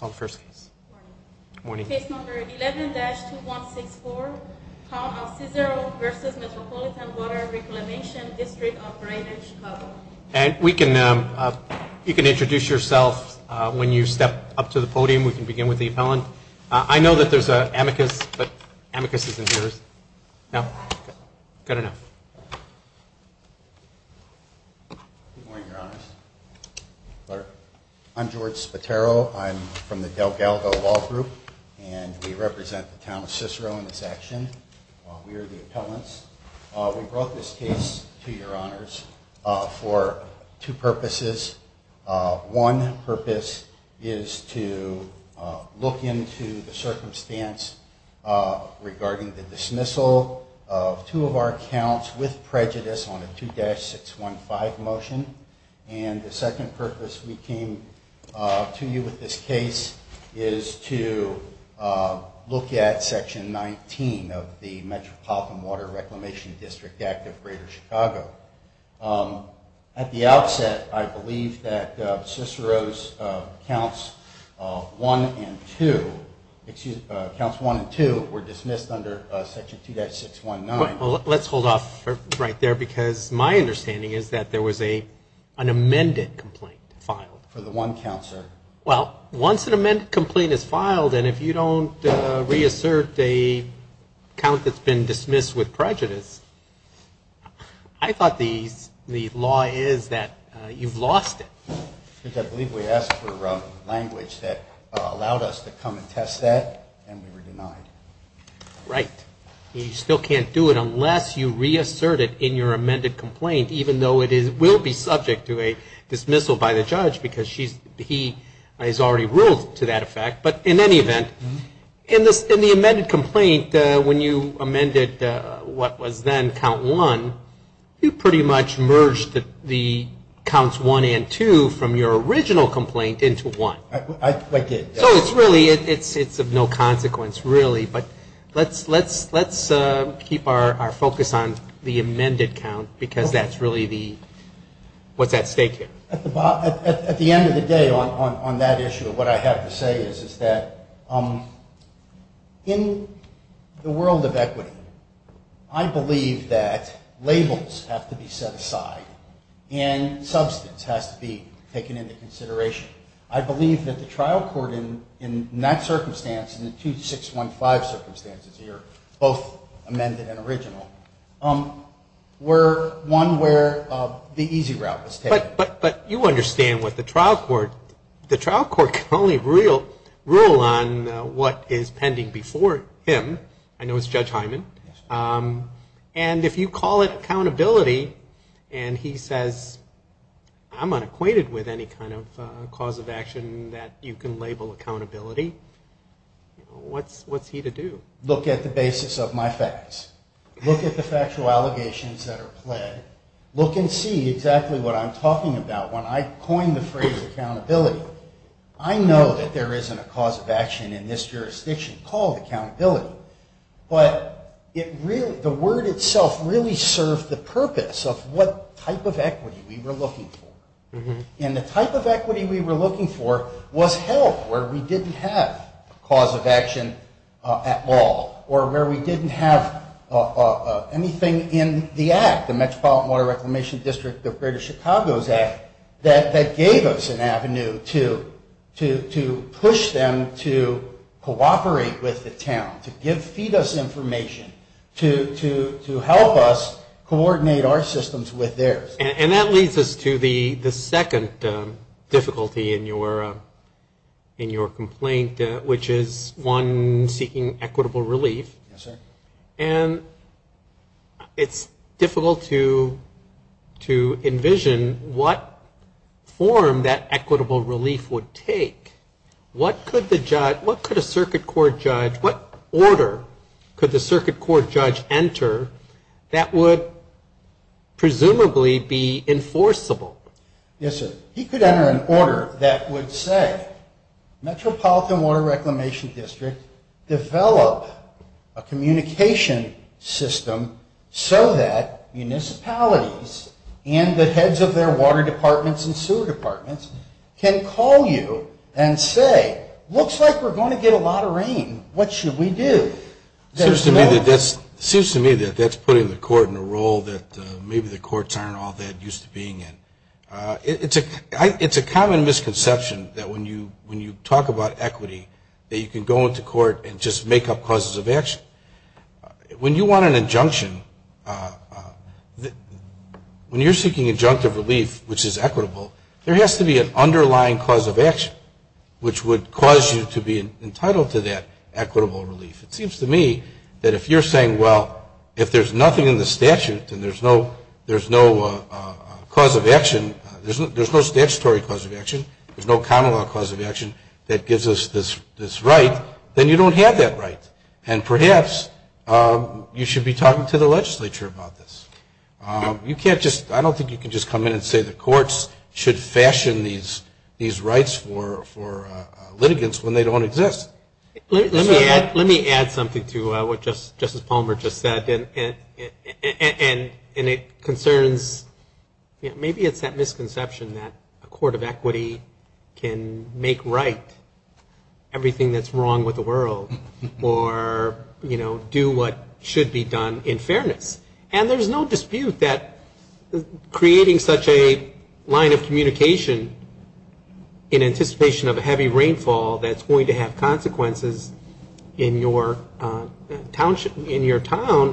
Good morning. Case number 11-2164, Town of Cicero v. Metropolitan Water Reclamation District of Greater Chicago. And we can, you can introduce yourself when you step up to the podium. We can begin with the appellant. I know that there's an amicus, but amicus isn't yours. No? Good enough. Good morning, Your Honors. I'm George Spatero. I'm from the Del Galgo Law Group, and we represent the Town of Cicero in this action. We are the appellants. We brought this case to Your Honors for two purposes. One purpose is to look into the circumstance regarding the dismissal of two of our accounts with prejudice on a 2-615 motion. And the second purpose we came to you with this case is to look at Section 19 of the Metropolitan Water Reclamation District Act of Greater Chicago. At the outset, I believe that Cicero's counts 1 and 2, excuse me, counts 1 and 2 were dismissed under Section 2-619. Let's hold off right there, because my understanding is that there was an amended complaint filed. Well, once an amended complaint is filed, and if you don't reassert the count that's been dismissed with prejudice, I thought the law is that you've lost it. I believe we asked for language that allowed us to come and test that, and we were denied. Right. You still can't do it unless you reassert it in your amended complaint, even though it will be subject to a dismissal by the judge, because he has already ruled to that effect. But in any event, in the amended complaint, when you amended what was then count 1, you pretty much merged the counts 1 and 2 from your original complaint into 1. I did. So it's really of no consequence, really. But let's keep our focus on the amended count, because that's really what's at stake here. At the end of the day, on that issue, what I have to say is that in the world of equity, I believe that labels have to be set aside and substance has to be taken into consideration. I believe that the trial court in that circumstance, in the 2615 circumstances here, both amended and original, were one where the easy route was taken. But you understand what the trial court can only rule on what is pending before him. I know it's Judge Hyman. And if you call it accountability and he says, I'm unacquainted with any kind of cause of action that you can label accountability, what's he to do? Look at the basis of my facts. Look at the factual allegations that are pled. Look and see exactly what I'm talking about. When I coined the phrase accountability, I know that there isn't a cause of action in this jurisdiction called accountability. But the word itself really served the purpose of what type of equity we were looking for. And the type of equity we were looking for was help where we didn't have cause of action at all or where we didn't have anything in the Act, the Metropolitan Water Reclamation District of Greater Chicago's Act, that gave us an avenue to push them to cooperate with the town, to feed us information, to help us coordinate our systems with theirs. And that leads us to the second difficulty in your complaint, which is one seeking equitable relief. Yes, sir. And it's difficult to envision what form that equitable relief would take. What could the judge, what could a circuit court judge, what order could the circuit court judge enter that would presumably be enforceable? Yes, sir. He could enter an order that would say Metropolitan Water Reclamation District develop a communication system so that municipalities and the heads of their water departments and sewer departments can call you and say, looks like we're going to get a lot of rain. What should we do? It seems to me that that's putting the court in a role that maybe the courts aren't all that used to being in. It's a common misconception that when you talk about equity that you can go into court and just make up causes of action. When you want an injunction, when you're seeking injunctive relief, which is equitable, there has to be an underlying cause of action which would cause you to be entitled to that equitable relief. It seems to me that if you're saying, well, if there's nothing in the statute, then there's no cause of action, there's no statutory cause of action, there's no common law cause of action that gives us this right, then you don't have that right. And perhaps you should be talking to the legislature about this. I don't think you can just come in and say the courts should fashion these rights for litigants when they don't exist. Let me add something to what Justice Palmer just said, and it concerns, maybe it's that misconception that a court of equity can make right everything that's wrong with the world, or do what should be done in fairness. And there's no dispute that creating such a line of communication in anticipation of a heavy rainfall that's going to have consequences in your town,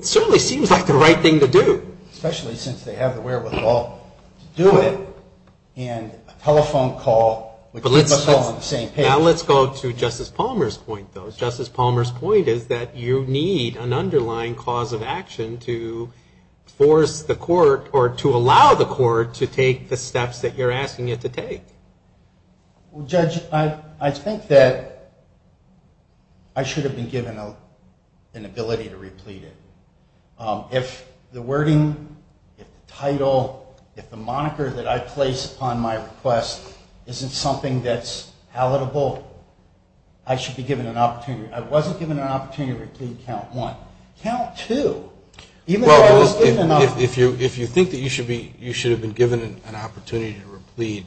certainly seems like the right thing to do. Especially since they have the wherewithal to do it, and a telephone call would keep us all on the same page. Now let's go to Justice Palmer's point, though. Justice Palmer's point is that you need an underlying cause of action to force the court, or to allow the court, to take the steps that you're asking it to take. Well, Judge, I think that I should have been given an ability to replete it. If the wording, if the title, if the moniker that I place upon my request isn't something that's palatable, I should be given an opportunity. I wasn't given an opportunity to replete count one. Count two. If you think that you should have been given an opportunity to replete,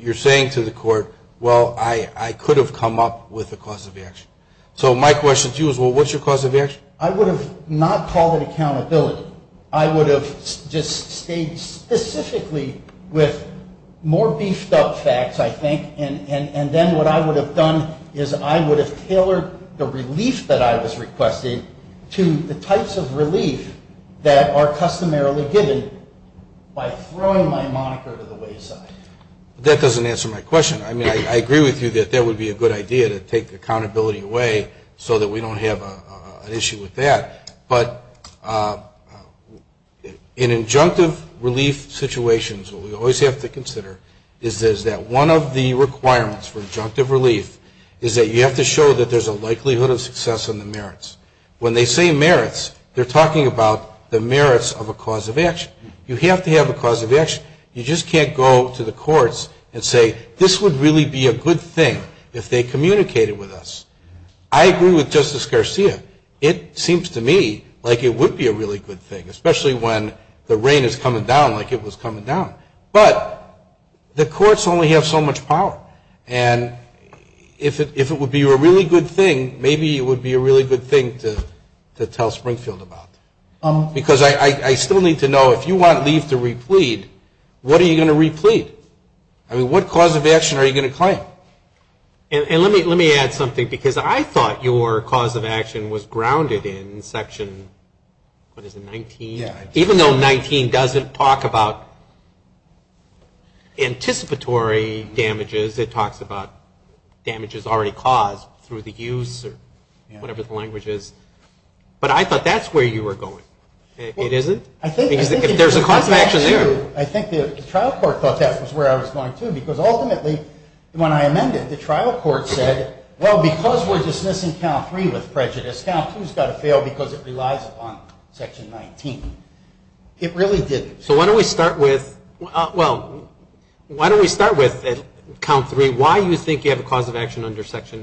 you're saying to the court, well, I could have come up with a cause of action. So my question to you is, well, what's your cause of action? I would have not called it accountability. I would have just stayed specifically with more beefed up facts, I think. And then what I would have done is I would have tailored the relief that I was requesting to the types of relief that are customarily given by throwing my moniker to the wayside. That doesn't answer my question. I mean, I agree with you that that would be a good idea to take the accountability away so that we don't have an issue with that. But in injunctive relief situations, what we always have to consider is that one of the requirements for injunctive relief is that you have to show that there's a likelihood of success in the merits. When they say merits, they're talking about the merits of a cause of action. You have to have a cause of action. You just can't go to the courts and say, this would really be a good thing if they communicated with us. I agree with Justice Garcia. It seems to me like it would be a really good thing, especially when the rain is coming down like it was coming down. But the courts only have so much power. And if it would be a really good thing, maybe it would be a really good thing to tell Springfield about. Because I still need to know, if you want relief to replete, what are you going to replete? I mean, what cause of action are you going to claim? And let me add something, because I thought your cause of action was grounded in Section, what is it, 19? Yeah. Even though 19 doesn't talk about anticipatory damages, it talks about damages already caused through the use or whatever the language is. But I thought that's where you were going. I think the trial court thought that was where I was going, too, because ultimately, when I amended, the trial court said, well, because we're dismissing Count 3 with prejudice, Count 2 has got to fail because it relies upon Section 19. It really didn't. So why don't we start with Count 3? Why do you think you have a cause of action under Section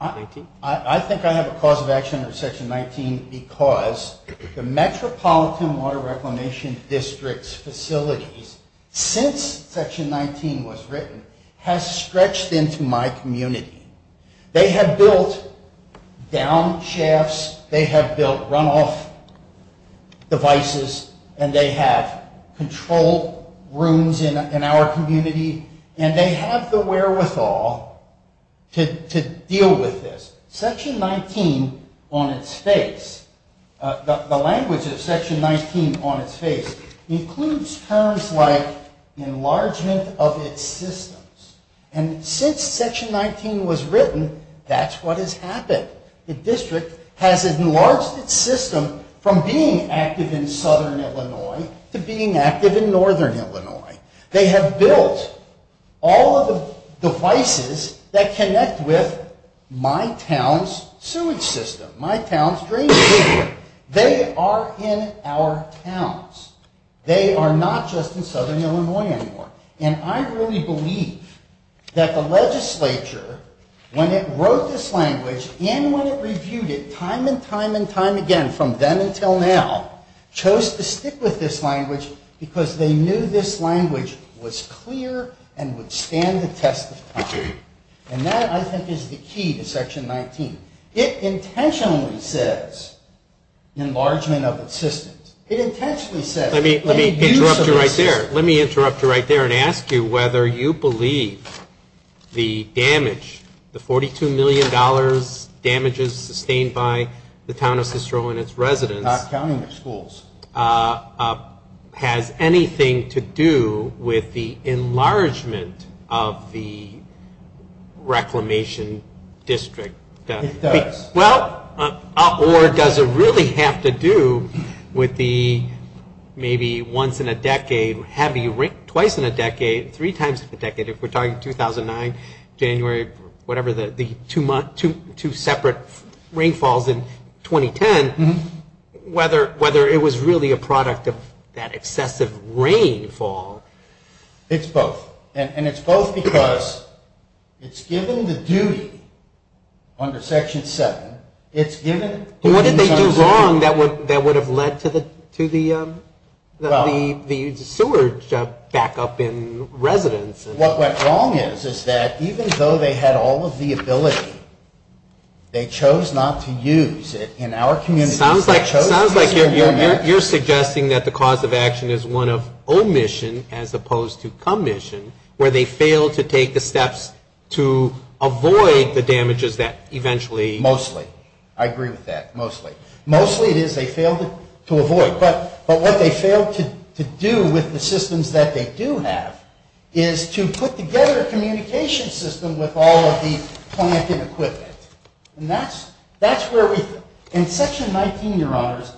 19? I think I have a cause of action under Section 19 because the Metropolitan Water Reclamation District's facilities, since Section 19 was built in our community, they have built down shafts. They have built runoff devices. And they have control rooms in our community. And they have the wherewithal to deal with this. Section 19 on its face, the language of Section 19 on its face includes terms like enlargement of its systems. And since Section 19 was written, that's what has happened. The district has enlarged its system from being active in southern Illinois to being active in northern Illinois. They have built all of the devices that connect with my town's sewage system, my town's drainage system. They are in our towns. They are not just in southern Illinois anymore. And I really believe that the legislature, when it wrote this language and when it reviewed it time and time and time again from then until now, chose to stick with this language because they knew this language was clear and would stand the test of time. And that, I think, is the key to Section 19. It intentionally says enlargement of its systems. Let me interrupt you right there and ask you whether you believe the damage, the $42 million damages sustained by the town of Sistro and its residents has anything to do with the enlargement of the reclamation district. It does. Or does it really have to do with the maybe once in a decade, twice in a decade, three times in a decade, if we're talking 2009, January, whatever, the two separate rainfalls in 2010, whether it was really a product of that excessive rainfall. It's both. And it's both because it's given the duty under Section 19 to do that. But what did they do wrong that would have led to the sewage backup in residences? What went wrong is that even though they had all of the ability, they chose not to use it in our communities. It sounds like you're suggesting that the cause of action is one of omission as opposed to commission, where they failed to take the steps to avoid the damages that eventually would have been caused. Mostly. I agree with that. Mostly. Mostly it is they failed to avoid. But what they failed to do with the systems that they do have is to put together a communication system with all of the plant and equipment. And that's where we, and Section 19, Your Honors,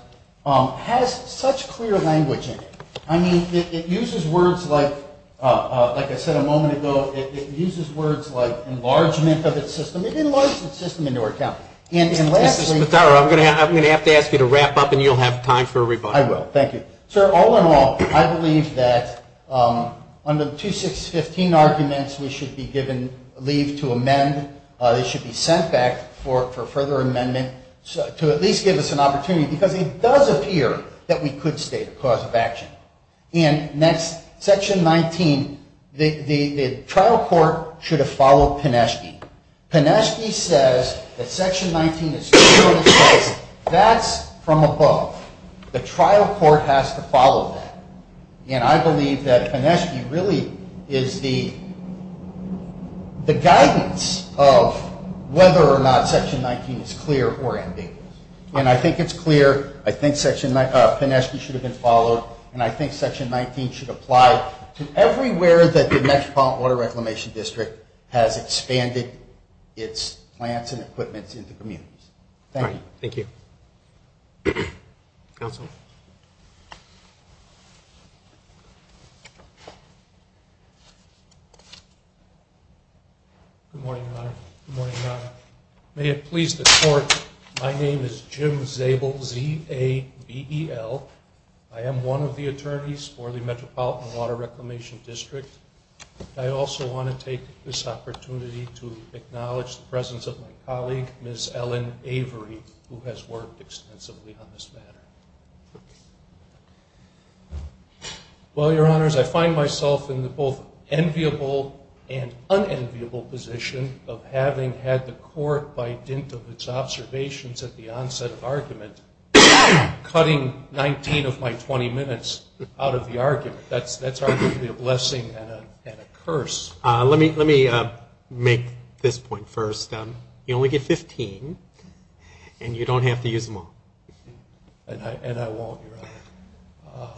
has such clear language in it. I mean, it uses words like, like I said a moment ago, it uses words like enlargement of its system. It enlarges its system into our county. Mr. Spataro, I'm going to have to ask you to wrap up, and you'll have time for a rebuttal. I will. Thank you. Sir, all in all, I believe that under the 2615 arguments, we should be given leave to amend. They should be sent back for further amendment to at least give us an opportunity, because it does appear that we could state a cause of action. And next, Section 19, the trial court should have followed Pineschke. Pineschke says that Section 19 is clear, and he says that's from above. The trial court has to follow that. And I believe that Pineschke really is the guidance of whether or not Section 19 is clear or ambiguous. And I think it's clear. I think Pineschke should have been followed. And I think Section 19 should apply to everywhere that the Metropolitan Water Reclamation District has expanded its plants and equipment into communities. Thank you. Good morning, Your Honor. May it please the Court, my name is Jim Zabel, Z-A-B-E-L. I am one of the attorneys for the Metropolitan Water Reclamation District. I also want to take this opportunity to acknowledge the presence of my colleague, Ms. Ellen Avery, who has worked extensively on this matter. Well, Your Honors, I find myself in the both enviable and unenviable position of having had the Court, by dint of its observations at the onset of argument, cutting 19 of my 20 minutes out of the argument. That's arguably a blessing and a curse. Let me make this point first. You only get 15, and you don't have to use them all. And I won't, Your Honor.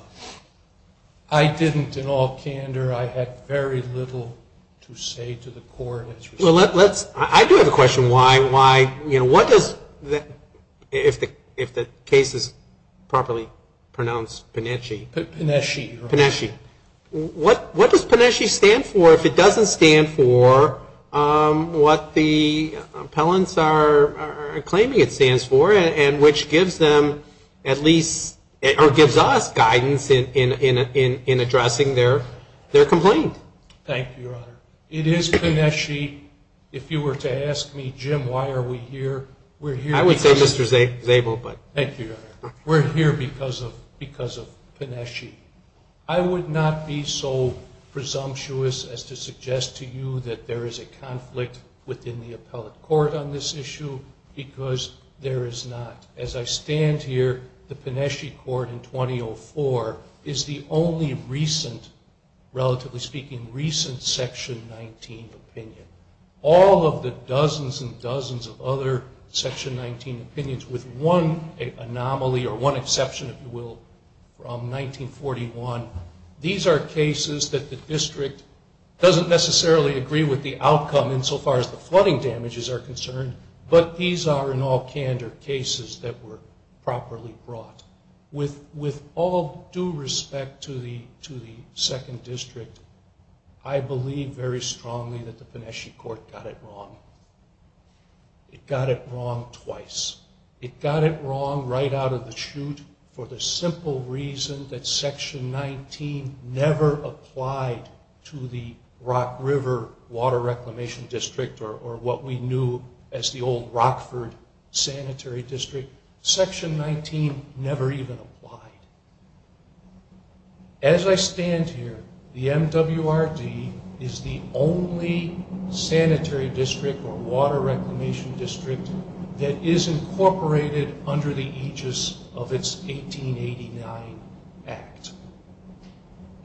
I didn't, in all candor, I had very little to say to the Court. Well, let's, I do have a question. Why, you know, what does, if the case is properly pronounced, Penesci. Penesci, Your Honor. What does Penesci stand for if it doesn't stand for what the appellants are claiming it stands for, and which gives them at least, or gives us, guidance in addressing their complaint? Thank you, Your Honor. It is Penesci. If you were to ask me, Jim, why are we here? I would say Mr. Szabo, but. Thank you, Your Honor. We're here because of Penesci. I would not be so presumptuous as to suggest to you that there is a conflict within the appellate court on this issue, because there is not. As I stand here, the Penesci Court in 2004 is the only recent, relatively speaking, recent Section 19 opinion. All of the dozens and dozens of other Section 19 opinions, with one anomaly, or one exception, if you will, from 1941. These are cases that the District doesn't necessarily agree with the outcome insofar as the flooding damages are concerned, but these are, in all candor, cases that the District does not agree with the outcome insofar as the flooding damages are concerned. With all due respect to the Second District, I believe very strongly that the Penesci Court got it wrong. It got it wrong twice. It got it wrong right out of the chute for the simple reason that Section 19 never applied to the Rock River Water Reclamation District, or what we knew as the old Rockford Sanitary District. Section 19 never even applied. As I stand here, the MWRD is the only sanitary district or water reclamation district that is incorporated under the aegis of its 1889 Act.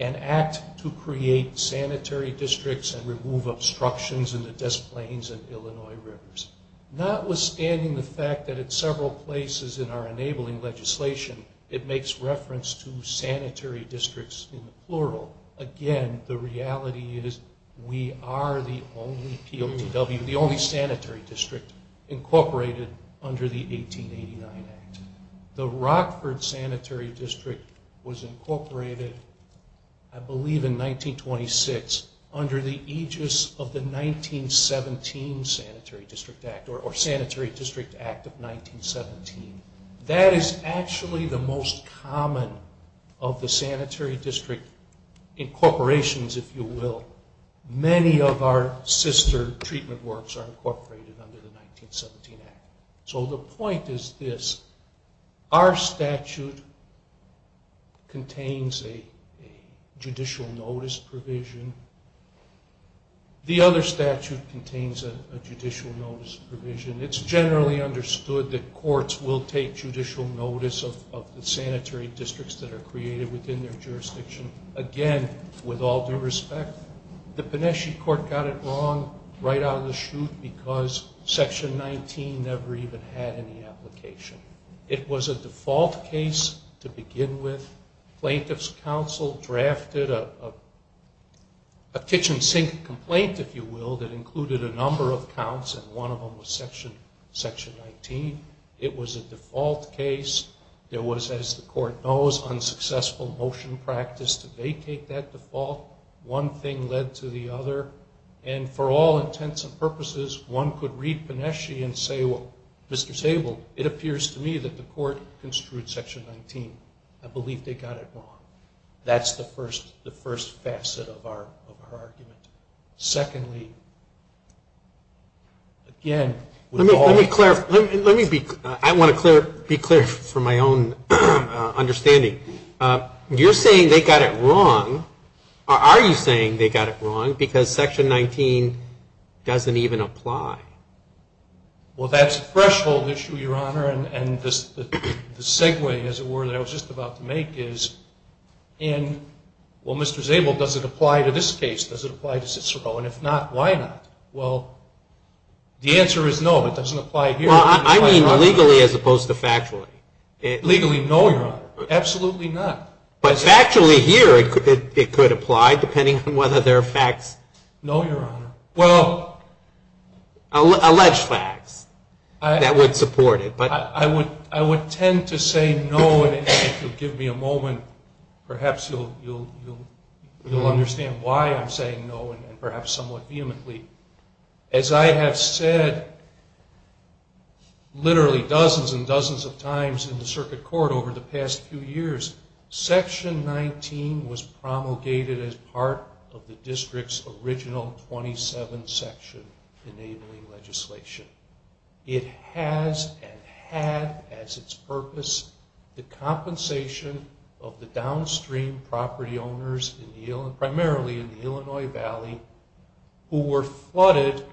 An act to create sanitary districts and remove obstructions in the Des Plaines and Illinois Rivers. Notwithstanding the fact that at several places in our enabling legislation it makes reference to sanitary districts in the plural. Again, the reality is we are the only sanitary district incorporated under the 1889 Act. The Rockford Sanitary District was incorporated, I believe in 1926, under the aegis of the 1917 Sanitary District Act. That is actually the most common of the sanitary district incorporations, if you will. Many of our sister treatment works are incorporated under the 1917 Act. So the point is this. Our statute contains a judicial notice provision. The other statute contains a judicial notice provision. It's generally understood that courts will take judicial notice of the sanitary districts that are created within their jurisdiction. Again, with all due respect, the Pineshie Court got it wrong right out of the chute because Section 19 never even had any application. It was a default case to begin with. Plaintiff's counsel drafted a kitchen sink complaint, if you will, that included a number of counts and one of them was Section 19. It was a default case. There was, as the court knows, unsuccessful motion practice to vacate that default. One thing led to the other, and for all intents and purposes, one could read Pineshie and say, they got it wrong. That's the first facet of our argument. Secondly, again, with all due respect... Let me be clear from my own understanding. You're saying they got it wrong, or are you saying they got it wrong because Section 19 doesn't even apply? Well, that's a threshold issue, Your Honor. And the segue, as it were, that I was just about to make is, well, Mr. Zabel, does it apply to this case? Does it apply to Cicero? And if not, why not? Well, the answer is no, it doesn't apply here. I mean legally as opposed to factually. Legally, no, Your Honor. Absolutely not. But factually here, it could apply, depending on whether there are facts... No, Your Honor. Alleged facts that would support it. I would tend to say no, and if you'll give me a moment, perhaps you'll understand why I'm saying no, and perhaps somewhat vehemently. As I have said literally dozens and dozens of times in the Circuit Court over the past few years, Section 19 was promulgated as part of the District's original 27-section enabling legislation. It has and had as its purpose the compensation of the downstream property owners, primarily in the Illinois Valley, who were flooded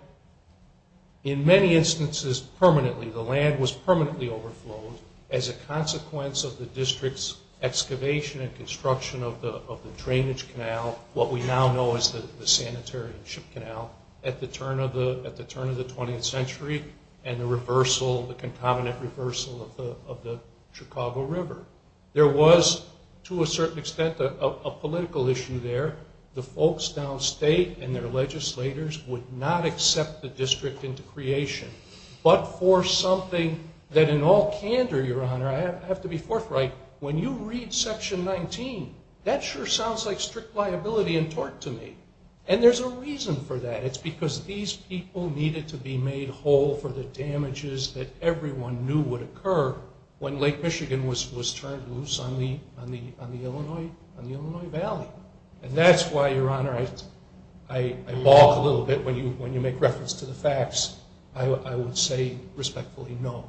in many instances permanently. The land was permanently overflown as a consequence of the District's excavation and construction of the drainage canal, what we now know as the sanitary ship canal, at the turn of the 20th century and the reversal, the concomitant reversal of the Chicago River. There was, to a certain extent, a political issue there. The folks downstate and their legislators would not accept the District into creation, but for something that in all candor, Your Honor, I have to be forthright, when you read Section 19, that sure sounds like strict liability and tort to me. And there's a reason for that. It's because these people needed to be made whole for the damages that everyone knew would occur when Lake Michigan was turned loose on the Illinois Valley. And that's why, Your Honor, I balk a little bit when you make reference to the facts. I would say respectfully, no.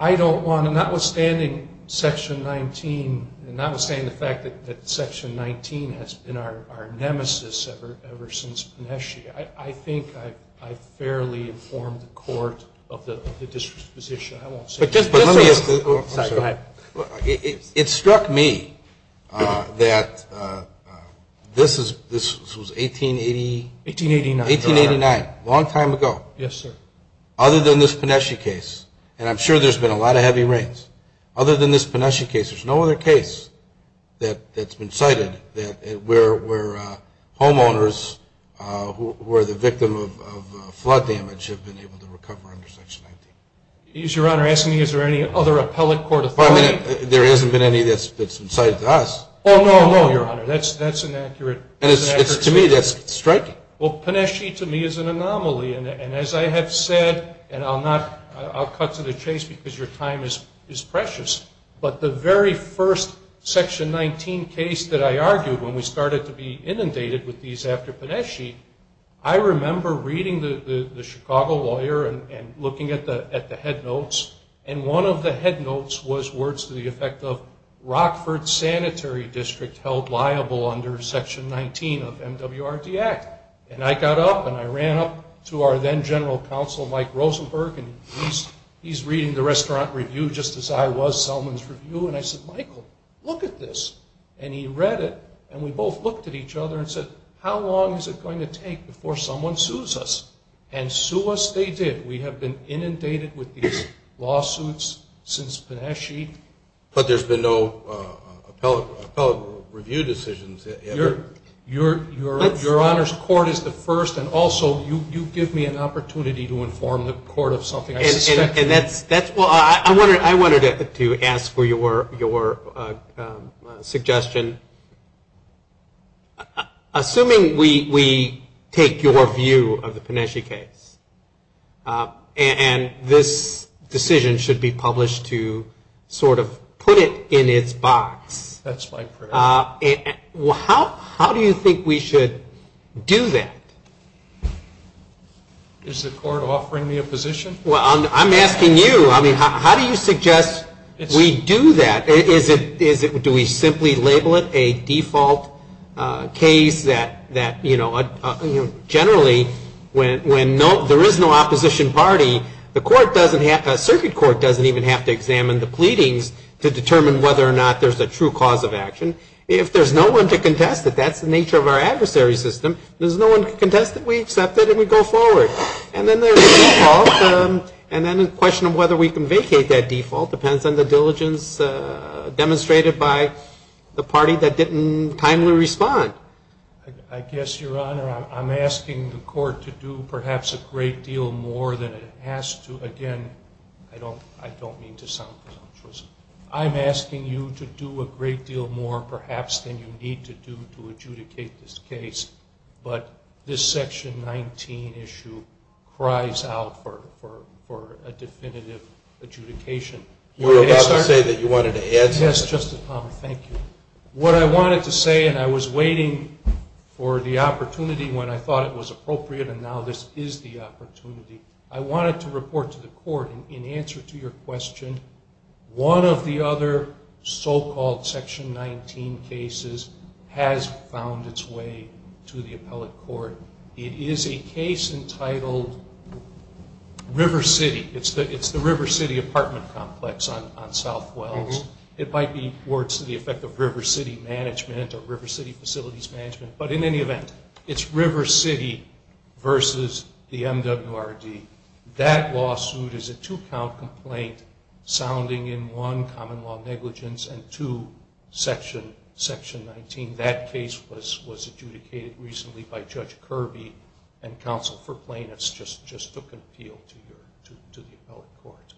I don't want to, notwithstanding Section 19, and notwithstanding the fact that Section 19 has been our nemesis ever since Panesci, I think I've fairly informed the Court of the District's position. It struck me that this was 1889, a long time ago. Other than this Panesci case, and I'm sure there's been a lot of heavy rains, there's no other case that's been cited where homeowners who are the victim of flood damage have been able to recover under Section 19. Is Your Honor asking me is there any other appellate court authority? There hasn't been any that's been cited to us. Oh, no, no, Your Honor. That's inaccurate. To me, that's striking. Well, Panesci to me is an anomaly. And as I have said, and I'll cut to the chase because your time is precious, but the very first Section 19 case that I argued when we started to be inundated with these after Panesci, I remember reading the Chicago lawyer and looking at the headnotes, and one of the headnotes was words to the effect of Rockford Sanitary District held liable under Section 19 of MWRD Act. And I got up and I ran up to our then General Counsel Mike Rosenberg, and he's reading the restaurant review just as I was Selman's review, and I said, Michael, look at this. And he read it, and we both looked at each other and said, how long is it going to take before someone sues us? And sue us they did. We have been inundated with these lawsuits since Panesci. But there's been no appellate review decisions. Your Honor's court is the first, and also you give me an opportunity to inform the court of something I suspect. I wanted to ask for your suggestion. Assuming we take your view of the Panesci case, and this decision should be published to sort of put it in its box. How do you think we should do that? Is the court offering me a position? I'm asking you. How do you suggest we do that? Do we simply label it a default case that, you know, generally when there is no opposition party, the circuit court doesn't even have to examine the pleadings to determine whether or not there's a true cause of action. If there's no one to contest it, that's the nature of our adversary system. There's no one to contest it, we accept it, and we go forward. And then the question of whether we can vacate that default depends on the diligence demonstrated by the party that didn't timely respond. I guess, Your Honor, I'm asking the court to do perhaps a great deal more than it has to. Again, I don't mean to sound presumptuous. I'm asking you to do a great deal more perhaps than you need to do to adjudicate this case. But this section 19 issue cries out for a definitive adjudication. Yes, Justice Palmer, thank you. What I wanted to say, and I was waiting for the opportunity when I thought it was appropriate, and now this is the opportunity. I wanted to report to the court, in answer to your question, one of the other so-called section 19 cases has found its way to the appellate court. It is a case entitled River City. It's the River City apartment complex on South Wells. It might be words to the effect of River City management or River City facilities management. But in any event, it's River City versus the MWRD. That lawsuit is a two-count complaint sounding in one, common law negligence, and two, section 19. That case was adjudicated recently by Judge Kirby and counsel for plaintiffs just took an appeal to the appellate court.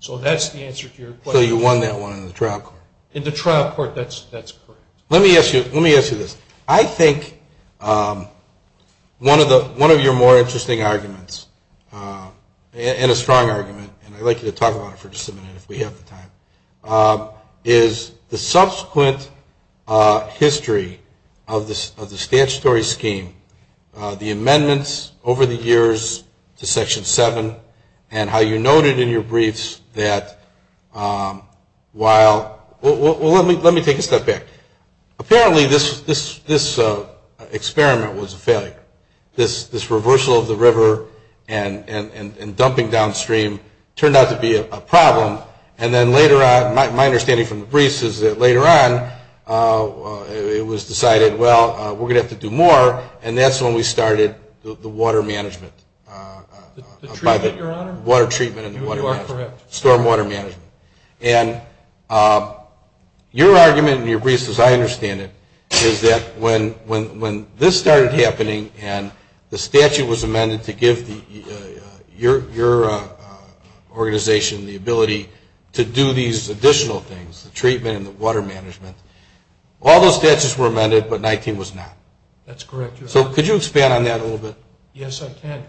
So that's the answer to your question. In the trial court, that's correct. Let me ask you this. I think one of your more interesting arguments, and a strong argument, and I'd like you to talk about it for just a minute if we have the time, is the subsequent history of the statutory scheme, the amendments over the years to section 7, and how you noted in your briefs that while, well let me take a step back. Apparently this experiment was a failure. This reversal of the river and dumping downstream turned out to be a problem, and then later on, my understanding from the briefs is that later on it was decided, well, we're going to have to do more, and that's when we started the water management. The treatment, your honor? Water treatment and the water management. You are correct. Storm water management. And your argument in your briefs, as I understand it, is that when this started happening and the statute was amended to give your organization the ability to do these additional things, the treatment and the water management, all those statutes were amended, but 19 was not. That's correct, your honor. So could you expand on that a little bit? Yes, I can.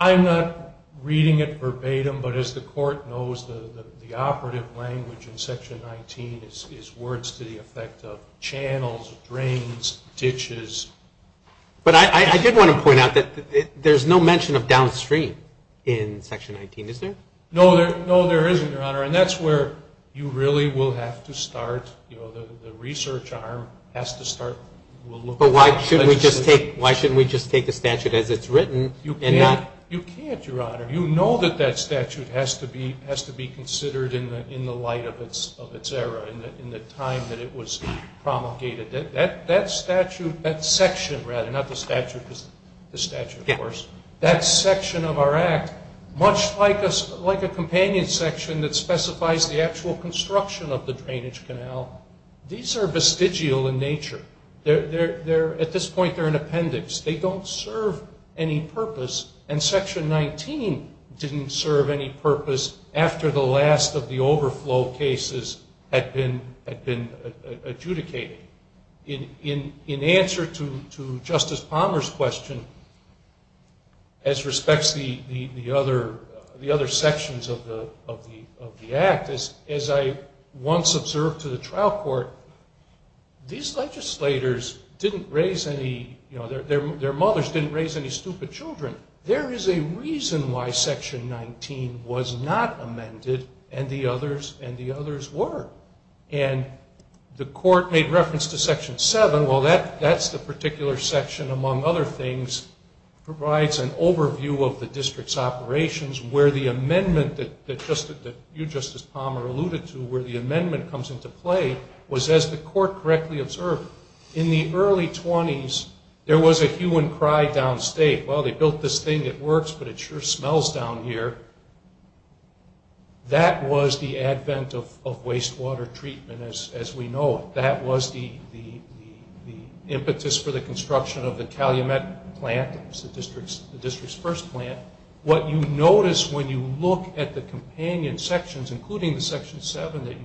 I'm not reading it verbatim, but as the court knows, the operative language in section 19 is words to the effect of channels, drains, ditches. But I did want to point out that there's no mention of downstream in section 19, is there? No, there isn't, your honor, and that's where you really will have to start, the research arm has to start. But why shouldn't we just take the statute as it's written? You can't, your honor. You know that that statute has to be considered in the light of its era, in the time that it was promulgated. That statute, that section rather, not the statute, that section of our act, much like a companion section that specifies the actual construction of the drainage canal, these are vestigial in nature. At this point they're an appendix. They don't serve any purpose, and section 19 didn't serve any purpose after the last of the overflow cases had been adjudicated. In answer to Justice Palmer's question, as respects to the other sections of the act, as I once observed to the trial court, these legislators didn't raise any, their mothers didn't raise any stupid children. There is a reason why section 19 was not amended, and the others were. And the court made reference to section 19, which provides an overview of the district's operations, where the amendment that you, Justice Palmer, alluded to, where the amendment comes into play, was, as the court correctly observed, in the early 20s there was a hue and cry downstate. Well, they built this thing, it works, but it sure smells down here. That was the advent of wastewater treatment, as we know it. That was the impetus for the construction of the Calumet plant, the district's first plant. What you notice when you look at the companion sections, including the section 7 that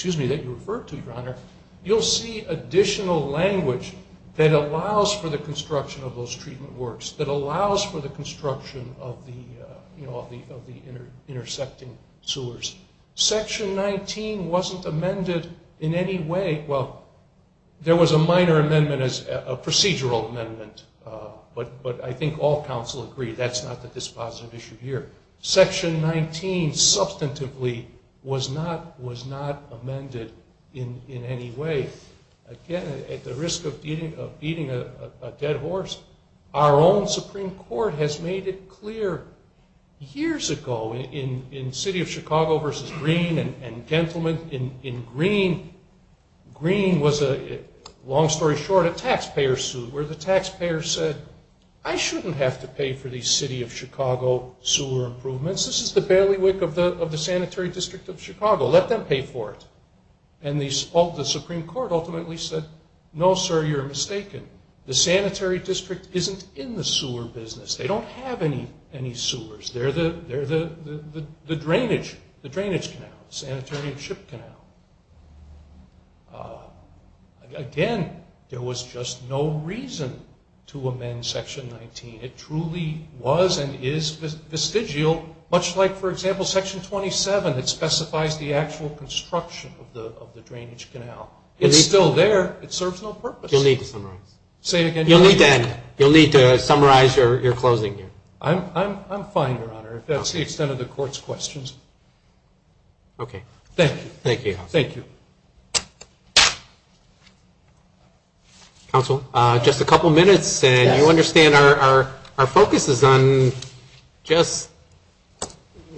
you referred to, Your Honor, you'll see additional language that allows for the construction of those treatment works, that allows for the construction of the intersecting sewers. Section 19 wasn't amended in any way. Well, there was a minor amendment, a procedural amendment, but I think all counsel agree that's not the dispositive issue here. Section 19, substantively, was not amended in any way. Again, at the risk of beating a dead horse, our own Supreme Court has made it clear, years ago, in City of Chicago v. Green, and gentlemen, in Green, Green was, long story short, a taxpayer suit, where the taxpayer said, I shouldn't have to pay for these City of Chicago sewer improvements. This is the bailiwick of the Sanitary District of Chicago. Let them pay for it. And the Supreme Court ultimately said, no, sir, you're mistaken. The Sanitary District isn't in the sewer business. They don't have any sewers. They're the drainage canal, the sanitary ship canal. Again, there was just no reason to amend section 19. It truly was and is vestigial, much like, for example, section 27 that specifies the actual construction of the drainage canal. It's still there. It serves no purpose. You'll need to summarize your closing here. I'm fine, Your Honor, if that's the extent of the Court's questions. Thank you. Counsel, just a couple minutes, and you understand our focus is on just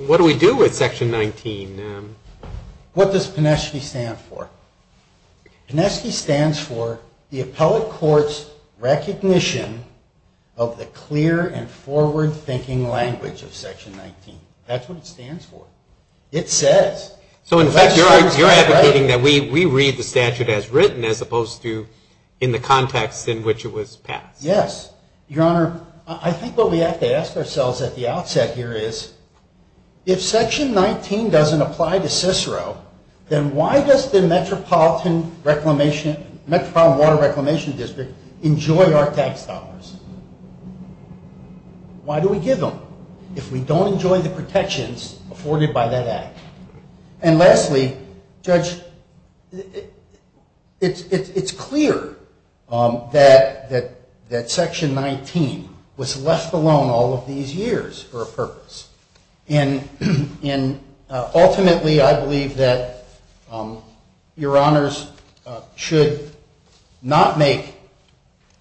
what do we do with section 19? What does Pineski stand for? Pineski stands for the Appellate Court's recognition of the clear and forward-thinking language of section 19. That's what it stands for. It says. You're advocating that we read the statute as written as opposed to in the context in which it was passed. Yes. Your Honor, I think what we have to ask ourselves at the outset here is, if section 19 doesn't apply to Cicero, then why does the Metropolitan Water Reclamation District enjoy our tax dollars? Why do we give them if we don't enjoy the protections afforded by that Act? And lastly, Judge, it's clear that section 19 was left alone all of these years for a purpose. Ultimately, I believe that Your Honors should not make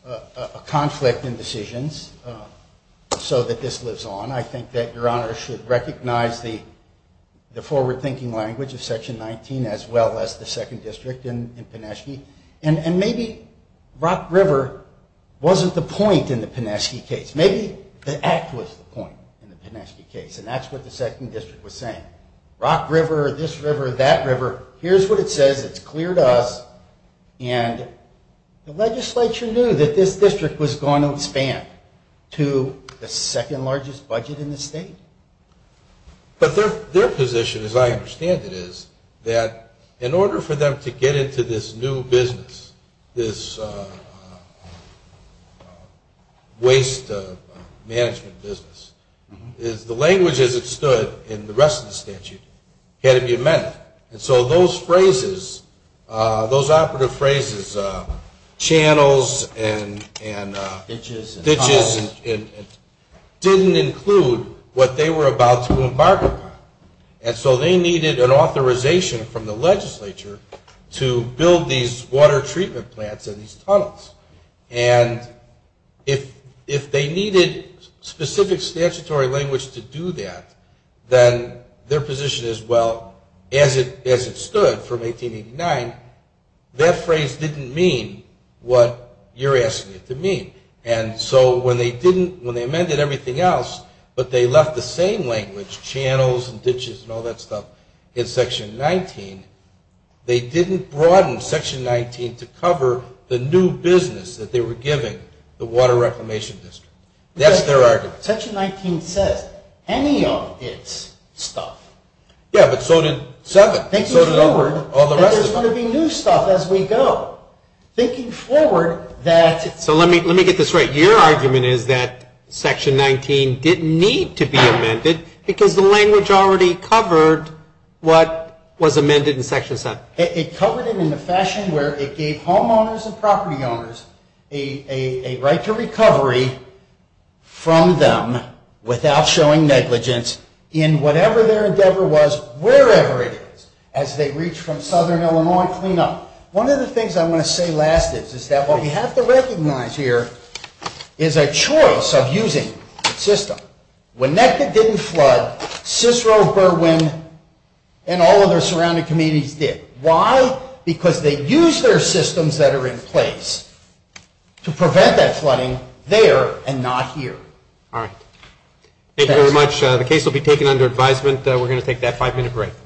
a conflict in decisions so that this lives on. I think that Your Honors should recognize the forward-thinking language of section 19 as well as the Second District in Pineski. And maybe Rock River wasn't the point in the Pineski case. Maybe the Act was the point in the Pineski case, and that's what the Second District was saying. Rock River, this river, that river, here's what it says. It's clear to us. And the legislature knew that this district was going to expand to the second largest budget in the state. But their position, as I understand it, is that in order for them to get into this new business, this waste management business, is the language as it stood in the rest of the statute had to be amended. And so those phrases, those operative phrases, channels and ditches didn't include what they were about to embark upon. And so they needed an authorization from the legislature to build these water treatment plants and these tunnels. And if they needed specific statutory language to do that, then their position is, well, as it stood from 1889, that phrase didn't mean what you're asking it to mean. And so when they amended everything else, but they left the same language, channels and ditches and all that stuff in Section 19, they didn't broaden Section 19 to cover the new business that they were giving the Water Reclamation District. That's their argument. Section 19 says any of its stuff. Yeah, but so did 7. So did all the rest of it. There's going to be new stuff as we go. Thinking forward that... So let me get this right. Your argument is that it covered what was amended in Section 7? It covered it in the fashion where it gave homeowners and property owners a right to recovery from them without showing negligence in whatever their endeavor was, wherever it is, as they reach from Southern Illinois and clean up. One of the things I want to say last is that what we have to recognize here is a choice of using the system. When NETCA didn't flood, Cicero, Berwyn and all of their surrounding communities did. Why? Because they used their systems that are in place to prevent that flooding there and not here. All right. Thank you very much. The case will be taken under advisement. We're going to take that five-minute break.